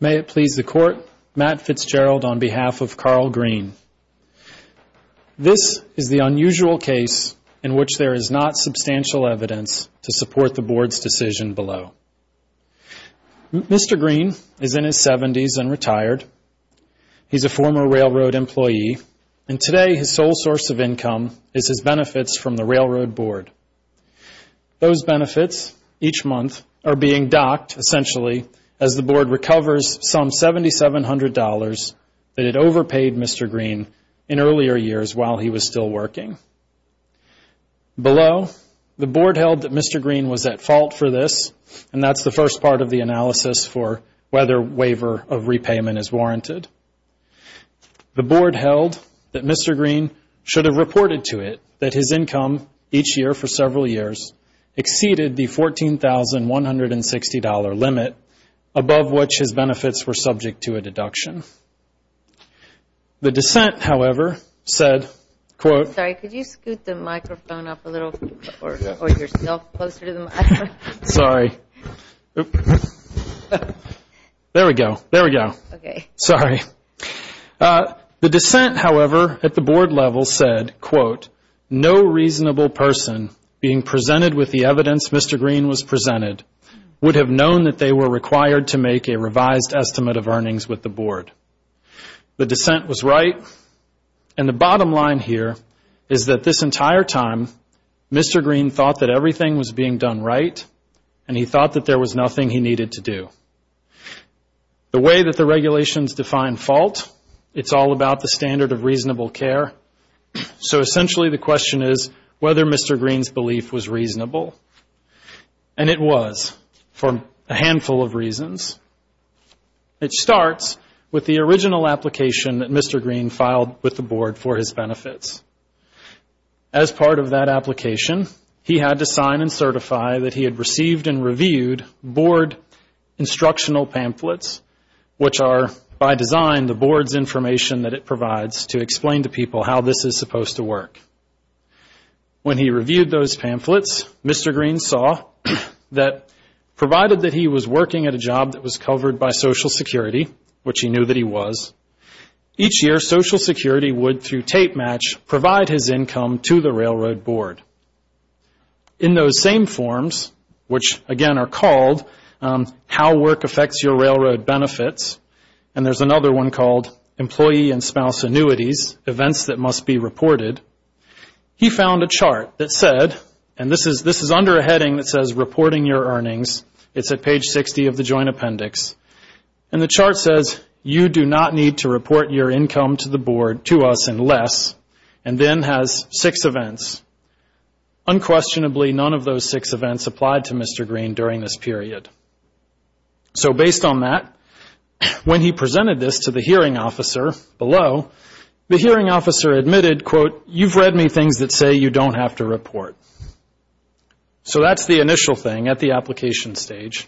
May it please the Court, Matt Fitzgerald on behalf of Carl Greene. This is the unusual case in which there is not substantial evidence to support the Board's decision below. Mr. Greene is in his seventies and retired. He's a former railroad employee, and today his sole source of income is his benefits from the Railroad Board. Those benefits, each month, are being docked, essentially, as the Board recovers some $7,700 that it overpaid Mr. Greene in earlier years while he was still working. Below, the Board held that Mr. Greene was at fault for this, and that's the first part of the analysis for whether waiver of repayment is warranted. The Board held that Mr. Greene should have reported to it that his income, each year for several years, exceeded the $14,160 limit, above which his benefits were subject to a deduction. The dissent, however, said, Sorry, could you scoot the microphone up a little or yourself closer to the microphone? Sorry. There we go. There we go. Okay. Sorry. The dissent, however, at the Board level said, No reasonable person being presented with the evidence Mr. Greene was presented would have known that they were required to make a revised estimate of earnings with the Board. The dissent was right, and the bottom line here is that this entire time, Mr. Greene thought that everything was being done right, and he thought that there was nothing he needed to do. The way that the regulations define fault, it's all about the standard of reasonable care. So essentially, the question is whether Mr. Greene's belief was reasonable. And it was, for a handful of reasons. It starts with the original application that Mr. Greene filed with the Board for his benefits. As part of that application, he had to sign and certify that he had received and reviewed Board instructional pamphlets, which are, by design, the Board's information that it provides to explain to people how this is supposed to work. When he reviewed those pamphlets, Mr. Greene saw that, provided that he was working at a job that was covered by Social Security, which he knew that he was, each year Social Security would, through tape match, provide his income to the Railroad Board. In those same forms, which, again, are called How Work Affects Your Railroad Benefits, and there's another one called Employee and Spouse Annuities, Events That Must Be Reported, he found a chart that said, and this is under a heading that says Reporting Your Earnings. It's at page 60 of the Joint Appendix. And the chart says, You do not need to report your income to the Board to us unless, and then has six events. Unquestionably, none of those six events applied to Mr. Greene during this period. So based on that, when he presented this to the hearing officer below, the hearing officer admitted, quote, You've read me things that say you don't have to report. So that's the initial thing at the application stage.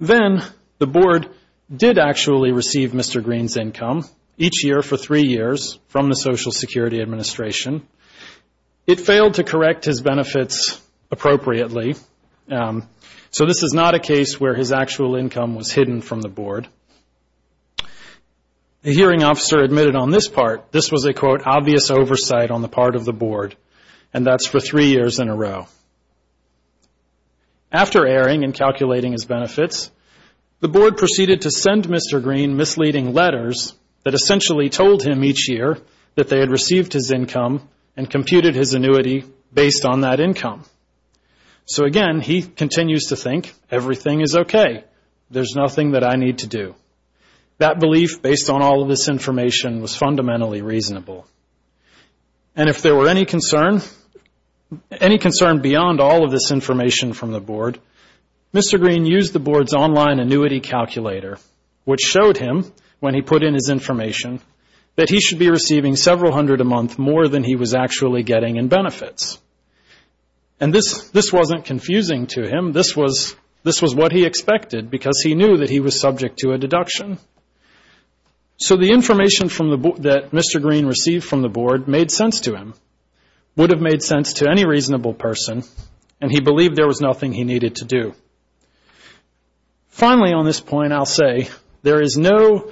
Then the Board did actually receive Mr. Greene's income each year for three years from the Social Security Administration. It failed to correct his benefits appropriately. So this is not a case where his actual income was hidden from the Board. The hearing officer admitted on this part, this was a, quote, obvious oversight on the part of the Board, and that's for three years in a row. After airing and calculating his benefits, the Board proceeded to send Mr. Greene misleading letters that essentially told him each year that they had received his income and computed his annuity based on that income. So again, he continues to think, Everything is okay. There's nothing that I need to do. That belief, based on all of this information, was fundamentally reasonable. And if there were any concern, any concern beyond all of this information from the Board, Mr. Greene used the Board's online annuity calculator, which showed him, when he put in his information, that he should be receiving several hundred a month more than he was actually getting in benefits. And this wasn't confusing to him. This was what he expected because he knew that he was subject to a deduction. So the information that Mr. Greene received from the Board made sense to him, would have made sense to any reasonable person, and he believed there was nothing he needed to do. Finally, on this point, I'll say, there is no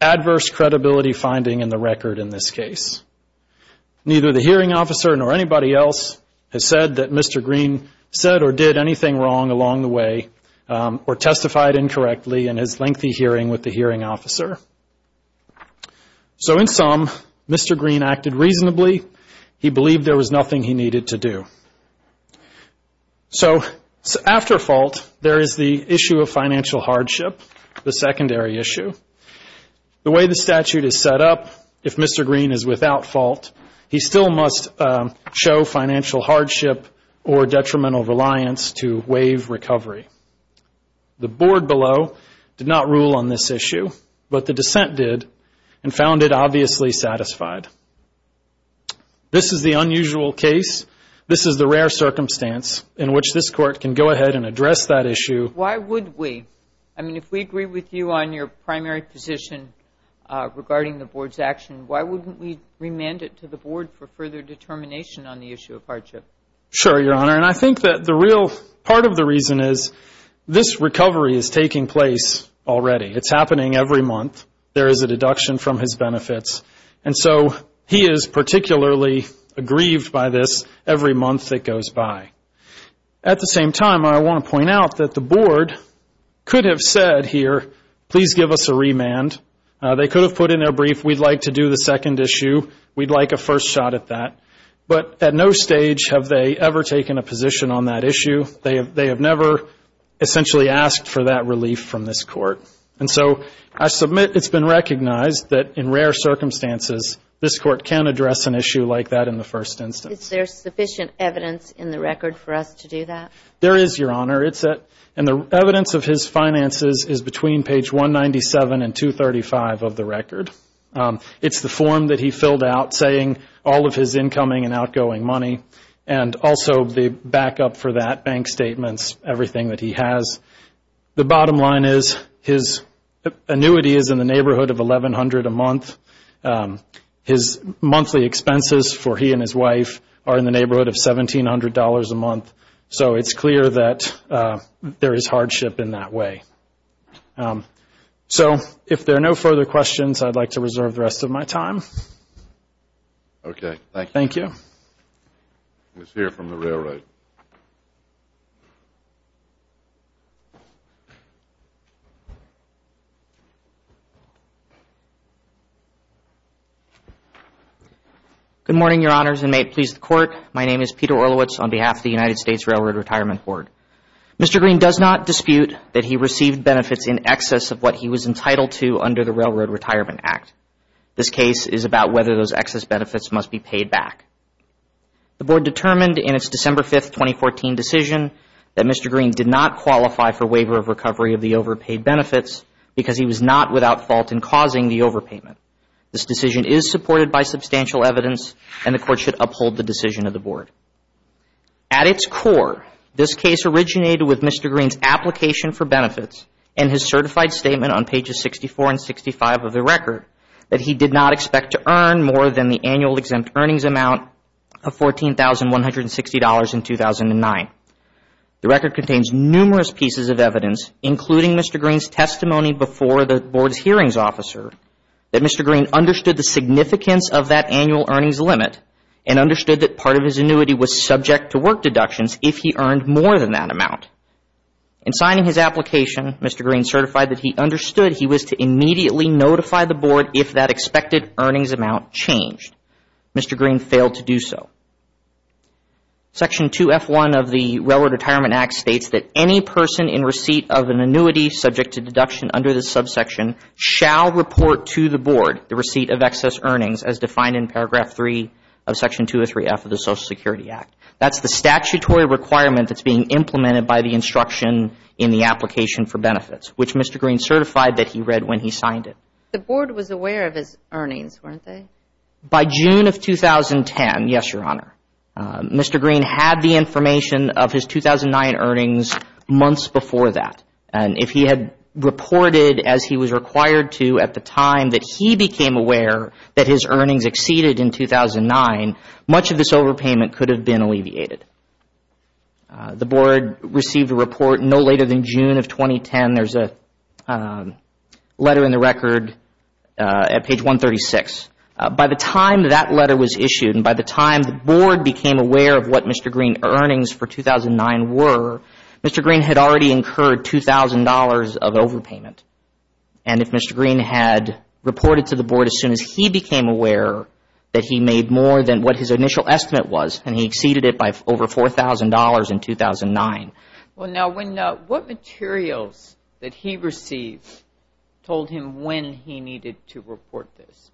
adverse credibility finding in the record in this case. Neither the hearing officer nor anybody else has said that Mr. Greene said or did anything wrong along the way or testified incorrectly in his lengthy hearing with the hearing officer. So in sum, Mr. Greene acted reasonably. He believed there was nothing he needed to do. So after fault, there is the issue of financial hardship, the secondary issue. The way the statute is set up, if Mr. Greene is without fault, he still must show financial hardship or detrimental reliance to waive recovery. The Board below did not rule on this issue, but the dissent did and found it obviously satisfied. This is the unusual case. This is the rare circumstance in which this Court can go ahead and address that issue. Why would we? I mean, if we agree with you on your primary position regarding the Board's action, why wouldn't we remand it to the Board for further determination on the issue of hardship? Sure, Your Honor. And I think that the real part of the reason is this recovery is taking place already. It's happening every month. There is a deduction from his benefits. And so he is particularly aggrieved by this every month that goes by. At the same time, I want to point out that the Board could have said here, please give us a remand. They could have put in their brief, we'd like to do the second issue. We'd like a first shot at that. But at no stage have they ever taken a position on that issue. They have never essentially asked for that relief from this Court. And so I submit it's been recognized that in rare circumstances, this Court can address an issue like that in the first instance. Is there sufficient evidence in the record for us to do that? There is, Your Honor. And the evidence of his finances is between page 197 and 235 of the record. It's the form that he filled out saying all of his incoming and outgoing money and also the backup for that, bank statements, everything that he has. The bottom line is his annuity is in the neighborhood of $1,100 a month. His monthly expenses for he and his wife are in the neighborhood of $1,700 a month. So it's clear that there is hardship in that way. So if there are no further questions, I'd like to reserve the rest of my time. Okay, thank you. Thank you. Let's hear from the Railroad. Good morning, Your Honors, and may it please the Court. My name is Peter Orlowitz on behalf of the United States Railroad Retirement Board. Mr. Green does not dispute that he received benefits in excess of what he was entitled to under the Railroad Retirement Act. This case is about whether those excess benefits must be paid back. The Board determined in its December 5, 2014, decision that Mr. Green did not qualify for waiver of recovery of the overpaid benefits because he was not without fault in causing the overpayment. This decision is supported by substantial evidence, and the Court should uphold the decision of the Board. At its core, this case originated with Mr. Green's application for benefits and his certified statement on pages 64 and 65 of the record that he did not expect to earn more than the annual exempt earnings amount of $14,160 in 2009. The record contains numerous pieces of evidence, including Mr. Green's testimony before the Board's hearings officer, that Mr. Green understood the significance of that annual earnings limit and understood that part of his annuity was subject to work deductions if he earned more than that amount. In signing his application, Mr. Green certified that he understood he was to immediately notify the Board if that expected earnings amount changed. Mr. Green failed to do so. Section 2F1 of the Railroad Retirement Act states that any person in receipt of an annuity subject to deduction under this subsection shall report to the Board the receipt of excess earnings as defined in paragraph 3 of section 203F of the Social Security Act. That's the statutory requirement that's being implemented by the instruction in the application for benefits, which Mr. Green certified that he read when he signed it. The Board was aware of his earnings, weren't they? By June of 2010, yes, Your Honor. Mr. Green had the information of his 2009 earnings months before that, and if he had reported as he was required to at the time that he became aware that his earnings exceeded in 2009, much of this overpayment could have been alleviated. The Board received a report no later than June of 2010. There's a letter in the record at page 136. By the time that letter was issued and by the time the Board became aware of what Mr. Green's earnings for 2009 were, Mr. Green had already incurred $2,000 of overpayment, and if Mr. Green had reported to the Board as soon as he became aware that he made more than what his initial estimate was and he exceeded it by over $4,000 in 2009. What materials that he received told him when he needed to report this?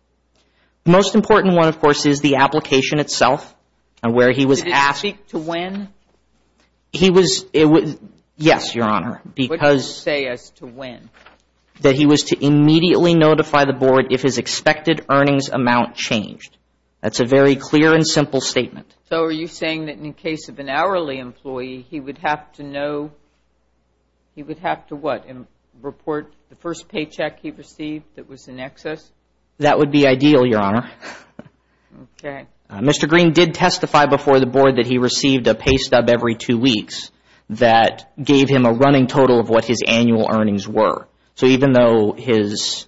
The most important one, of course, is the application itself and where he was asked. Did it speak to when? Yes, Your Honor. What did it say as to when? That he was to immediately notify the Board if his expected earnings amount changed. That's a very clear and simple statement. So are you saying that in the case of an hourly employee, he would have to know, he would have to what, report the first paycheck he received that was in excess? That would be ideal, Your Honor. Mr. Green did testify before the Board that he received a pay stub every two weeks that gave him a running total of what his annual earnings were. So even though his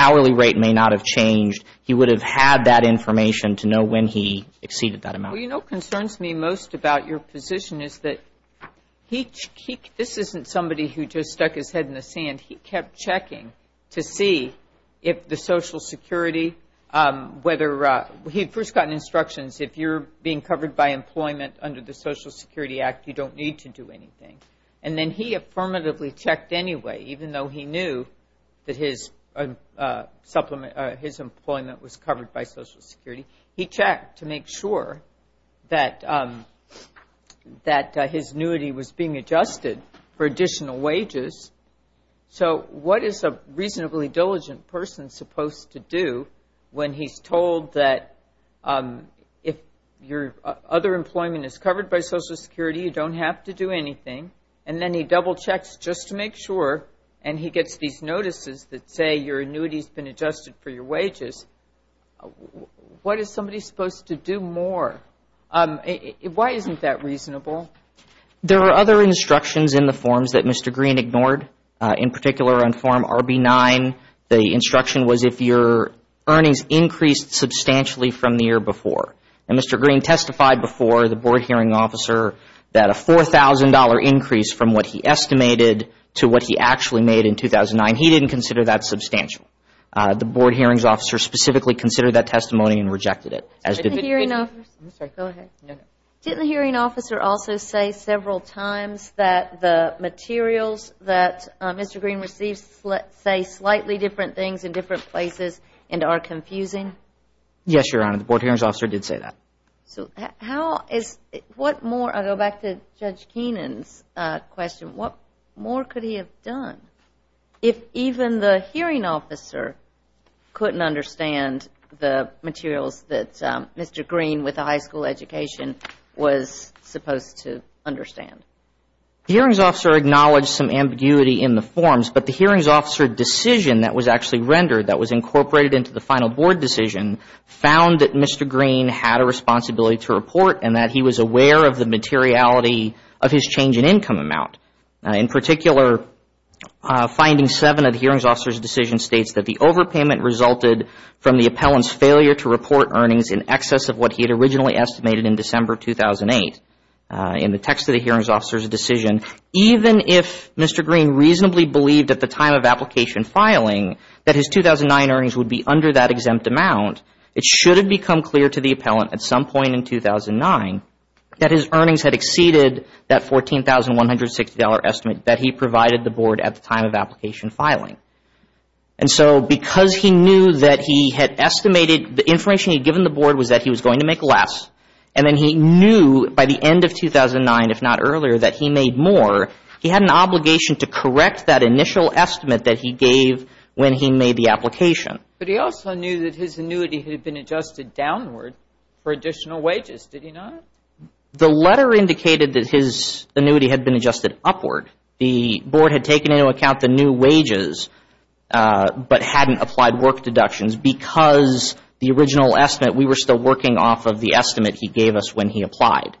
hourly rate may not have changed, he would have had that information to know when he exceeded that amount. Well, you know what concerns me most about your position is that he, this isn't somebody who just stuck his head in the sand. He kept checking to see if the Social Security, whether, he had first gotten instructions, if you're being covered by employment under the Social Security Act, you don't need to do anything. And then he affirmatively checked anyway, even though he knew that his employment was covered by Social Security. He checked to make sure that his annuity was being adjusted for additional wages. So what is a reasonably diligent person supposed to do when he's told that if your other employment is covered by Social Security, you don't have to do anything, and then he double checks just to make sure, and he gets these notices that say your annuity has been adjusted for your wages. What is somebody supposed to do more? Why isn't that reasonable? There are other instructions in the forms that Mr. Green ignored. In particular, on Form RB9, the instruction was if your earnings increased substantially from the year before. And Mr. Green testified before the Board Hearing Officer that a $4,000 increase from what he estimated to what he actually made in 2009, he didn't consider that substantial. The Board Hearings Officer specifically considered that testimony and rejected it. I'm sorry. Go ahead. Didn't the Hearing Officer also say several times that the materials that Mr. Green received say slightly different things in different places and are confusing? Yes, Your Honor. The Board Hearings Officer did say that. So how is – what more – I'll go back to Judge Keenan's question. What more could he have done? If even the Hearing Officer couldn't understand the materials that Mr. Green with a high school education was supposed to understand. The Hearings Officer acknowledged some ambiguity in the forms, but the Hearings Officer decision that was actually rendered, that was incorporated into the final Board decision, found that Mr. Green had a responsibility to report and that he was aware of the materiality of his change in income amount. In particular, Finding 7 of the Hearings Officer's decision states that the overpayment resulted from the appellant's failure to report earnings in excess of what he had originally estimated in December 2008. In the text of the Hearings Officer's decision, even if Mr. Green reasonably believed at the time of application filing that his 2009 earnings would be under that exempt amount, it should have become clear to the appellant at some point in 2009 that his earnings had exceeded that $14,160 estimate that he provided the Board at the time of application filing. And so because he knew that he had estimated – the information he had given the Board was that he was going to make less and then he knew by the end of 2009, if not earlier, that he made more, he had an obligation to correct that initial estimate that he gave when he made the application. But he also knew that his annuity had been adjusted downward for additional wages, did he not? The letter indicated that his annuity had been adjusted upward. The Board had taken into account the new wages but hadn't applied work deductions because the original estimate – we were still working off of the estimate he gave us when he applied,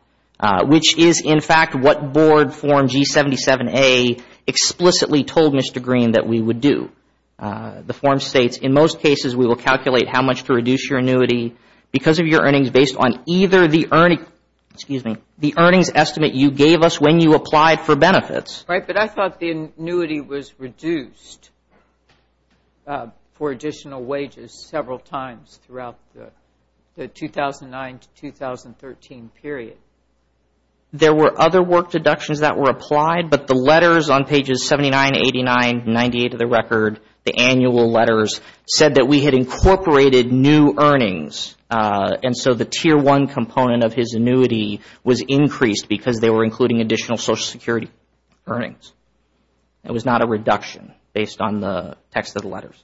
which is in fact what Board Form G77A explicitly told Mr. Green that we would do. The form states, in most cases, we will calculate how much to reduce your annuity because of your earnings based on either the earnings estimate you gave us when you applied for benefits. Right, but I thought the annuity was reduced for additional wages several times throughout the 2009 to 2013 period. There were other work deductions that were applied, but the letters on pages 79, 89, 98 of the record, the annual letters, said that we had incorporated new earnings. And so the Tier 1 component of his annuity was increased because they were including additional Social Security earnings. It was not a reduction based on the text of the letters.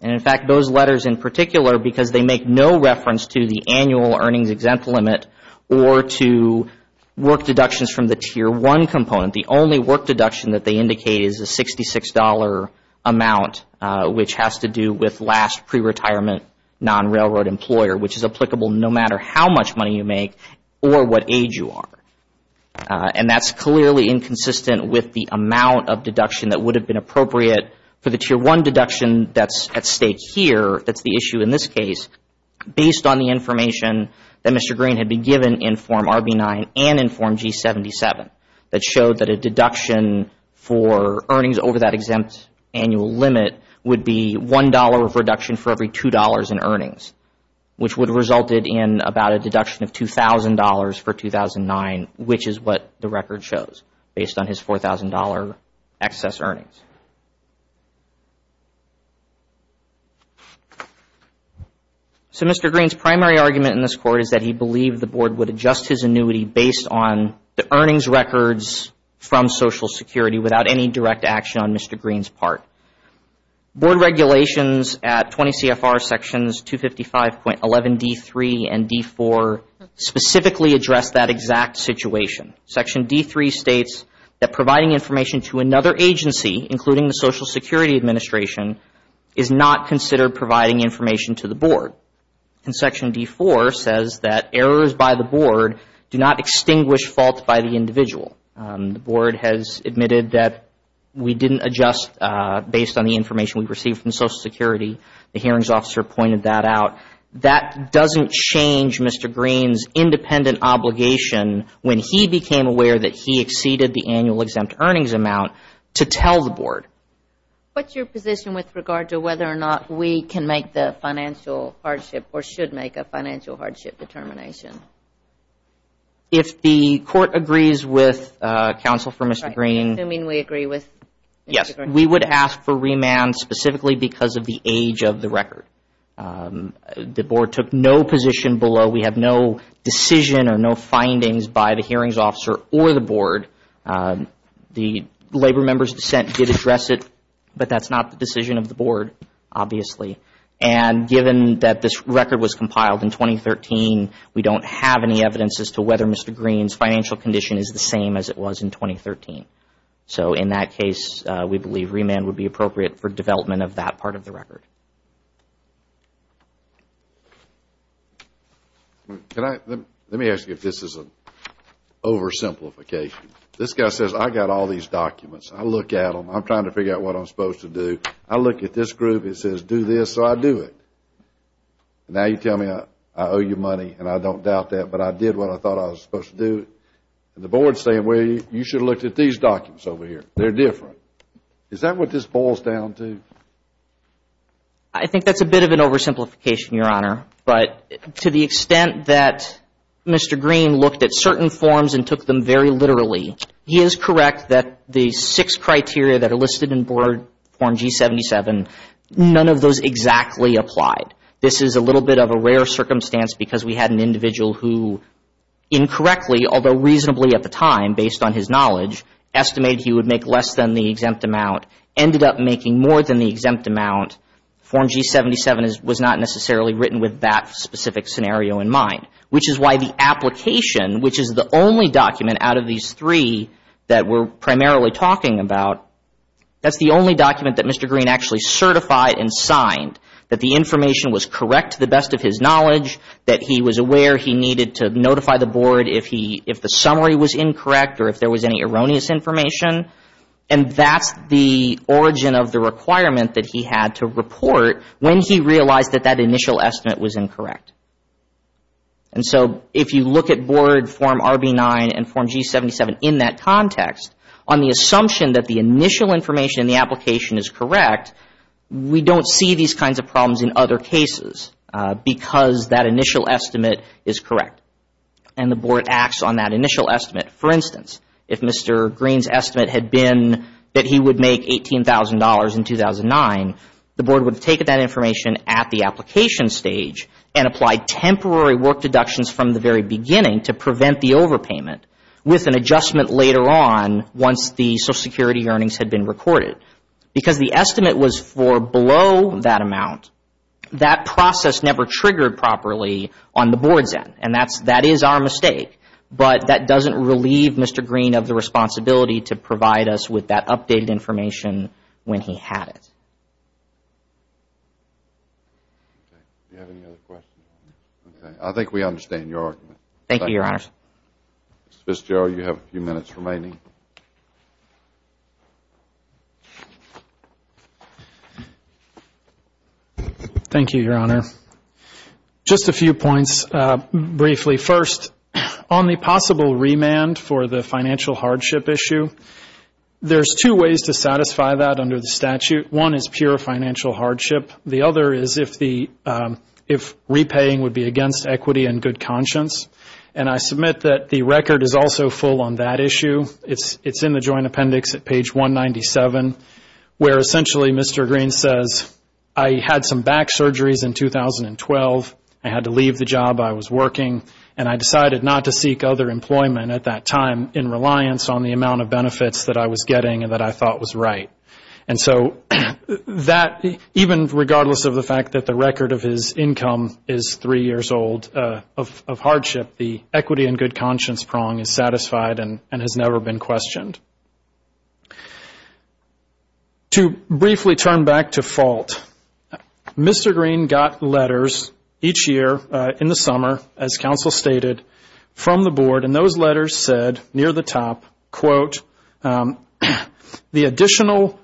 And in fact, those letters in particular, because they make no reference to the annual earnings exempt limit or to work deductions from the Tier 1 component, the only work deduction that they indicate is a $66 amount, which has to do with last pre-retirement non-railroad employer, which is applicable no matter how much money you make or what age you are. And that's clearly inconsistent with the amount of deduction that would have been appropriate for the Tier 1 deduction that's at stake here, that's the issue in this case, based on the information that Mr. Green had been given in Form RB9 and in Form G77 that showed that a deduction for earnings over that exempt annual limit would be $1 of reduction for every $2 in earnings, which would have resulted in about a deduction of $2,000 for 2009, which is what the record shows based on his $4,000 excess earnings. So Mr. Green's primary argument in this court is that he believed the Board would adjust his annuity based on the earnings records from Social Security without any direct action on Mr. Green's part. Board regulations at 20 CFR Sections 255.11d3 and d4 specifically address that exact situation. Section d3 states that providing information to another agency, including the Social Security Administration, is not considered providing information to the Board. Section d4 says that errors by the Board do not extinguish fault by the individual. The Board has admitted that we didn't adjust based on the information we received from Social Security. The hearings officer pointed that out. That doesn't change Mr. Green's independent obligation when he became aware that he exceeded the annual exempt earnings amount to tell the Board. What's your position with regard to whether or not we can make the financial hardship or should make a financial hardship determination? If the Court agrees with counsel for Mr. Green. You mean we agree with Mr. Green? Yes, we would ask for remand specifically because of the age of the record. The Board took no position below. We have no decision or no findings by the hearings officer or the Board. The Labor members' dissent did address it, but that's not the decision of the Board, obviously. Given that this record was compiled in 2013, we don't have any evidence as to whether Mr. Green's financial condition is the same as it was in 2013. In that case, we believe remand would be appropriate for development of that part of the record. Let me ask you if this is an oversimplification. This guy says I've got all these documents. I look at them. I'm trying to figure out what I'm supposed to do. I look at this group. It says do this, so I do it. Now you tell me I owe you money, and I don't doubt that, but I did what I thought I was supposed to do. The Board is saying, well, you should have looked at these documents over here. They're different. Is that what this boils down to? I think that's a bit of an oversimplification, Your Honor, but to the extent that Mr. Green looked at certain forms and took them very literally, he is correct that the six criteria that are listed in Board Form G77, none of those exactly applied. This is a little bit of a rare circumstance because we had an individual who incorrectly, although reasonably at the time based on his knowledge, estimated he would make less than the exempt amount, ended up making more than the exempt amount. Form G77 was not necessarily written with that specific scenario in mind, which is why the application, which is the only document out of these three that we're primarily talking about, that's the only document that Mr. Green actually certified and signed, that the information was correct to the best of his knowledge, that he was aware he needed to notify the Board if the summary was incorrect or if there was any erroneous information, and that's the origin of the requirement that he had to report when he realized that that initial estimate was incorrect. And so if you look at Board Form RB9 and Form G77 in that context, on the assumption that the initial information in the application is correct, we don't see these kinds of problems in other cases because that initial estimate is correct and the Board acts on that initial estimate. For instance, if Mr. Green's estimate had been that he would make $18,000 in 2009, the Board would have taken that information at the application stage and applied temporary work deductions from the very beginning to prevent the overpayment with an adjustment later on once the Social Security earnings had been recorded. Because the estimate was for below that amount, that process never triggered properly on the Board's end, and that is our mistake, but that doesn't relieve Mr. Green of the responsibility to provide us with that updated information when he had it. I think we understand your argument. Thank you, Your Honor. Mr. Fitzgerald, you have a few minutes remaining. Thank you, Your Honor. Just a few points briefly. First, on the possible remand for the financial hardship issue, there's two ways to satisfy that under the statute. One is pure financial hardship. The other is if repaying would be against equity and good conscience, and I submit that the record is also full on that issue. It's in the Joint Appendix at page 197 where essentially Mr. Green says, I had some back surgeries in 2012. I had to leave the job. I was working, and I decided not to seek other employment at that time in reliance on the amount of benefits that I was getting and that I thought was right. And so that, even regardless of the fact that the record of his income is three years old of hardship, the equity and good conscience prong is satisfied and has never been questioned. To briefly turn back to fault, Mr. Green got letters each year in the summer, as counsel stated, from the board, and those letters said near the top, quote, the additional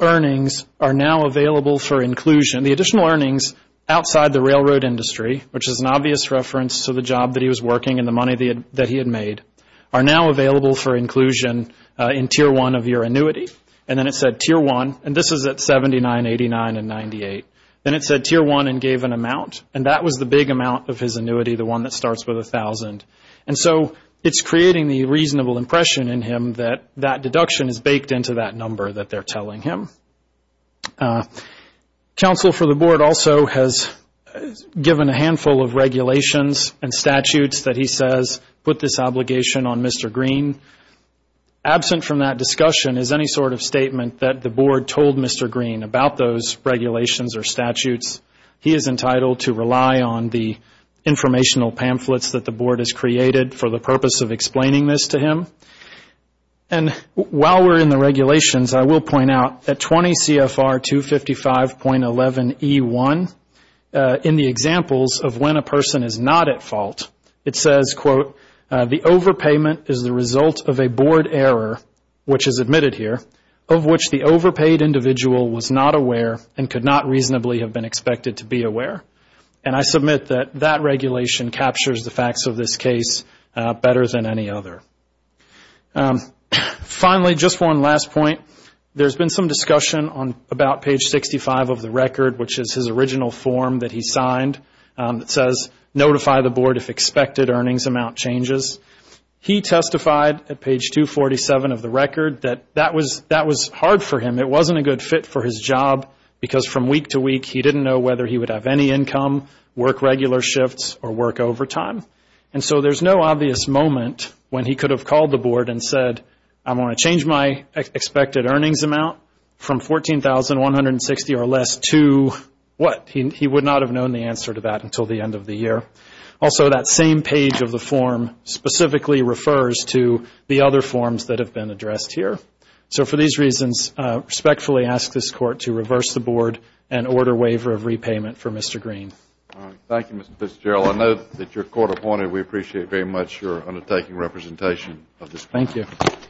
earnings are now available for inclusion. The additional earnings outside the railroad industry, which is an obvious reference to the job that he was working and the money that he had made, are now available for inclusion in Tier 1 of your annuity. And then it said Tier 1, and this is at 79, 89, and 98. Then it said Tier 1 and gave an amount, and that was the big amount of his annuity, the one that starts with 1,000. And so it's creating the reasonable impression in him that that deduction is baked into that number that they're telling him. Counsel for the board also has given a handful of regulations and statutes that he says put this obligation on Mr. Green. Absent from that discussion is any sort of statement that the board told Mr. Green about those regulations or statutes. He is entitled to rely on the informational pamphlets that the board has created for the purpose of explaining this to him. And while we're in the regulations, I will point out that 20 CFR 255.11E1, in the examples of when a person is not at fault, it says, quote, the overpayment is the result of a board error, which is admitted here, of which the overpaid individual was not aware and could not reasonably have been expected to be aware. And I submit that that regulation captures the facts of this case better than any other. Finally, just one last point. There's been some discussion on about page 65 of the record, which is his original form that he signed that says notify the board if expected earnings amount changes. He testified at page 247 of the record that that was hard for him. It wasn't a good fit for his job because from week to week, he didn't know whether he would have any income, work regular shifts, or work overtime. And so there's no obvious moment when he could have called the board and said, I want to change my expected earnings amount from $14,160 or less to what? He would not have known the answer to that until the end of the year. Also, that same page of the form specifically refers to the other forms that have been addressed here. So for these reasons, respectfully ask this court to reverse the board and order waiver of repayment for Mr. Green. Thank you, Mr. Fitzgerald. I know that your court appointed, and we appreciate very much your undertaking representation of this case. Thank you.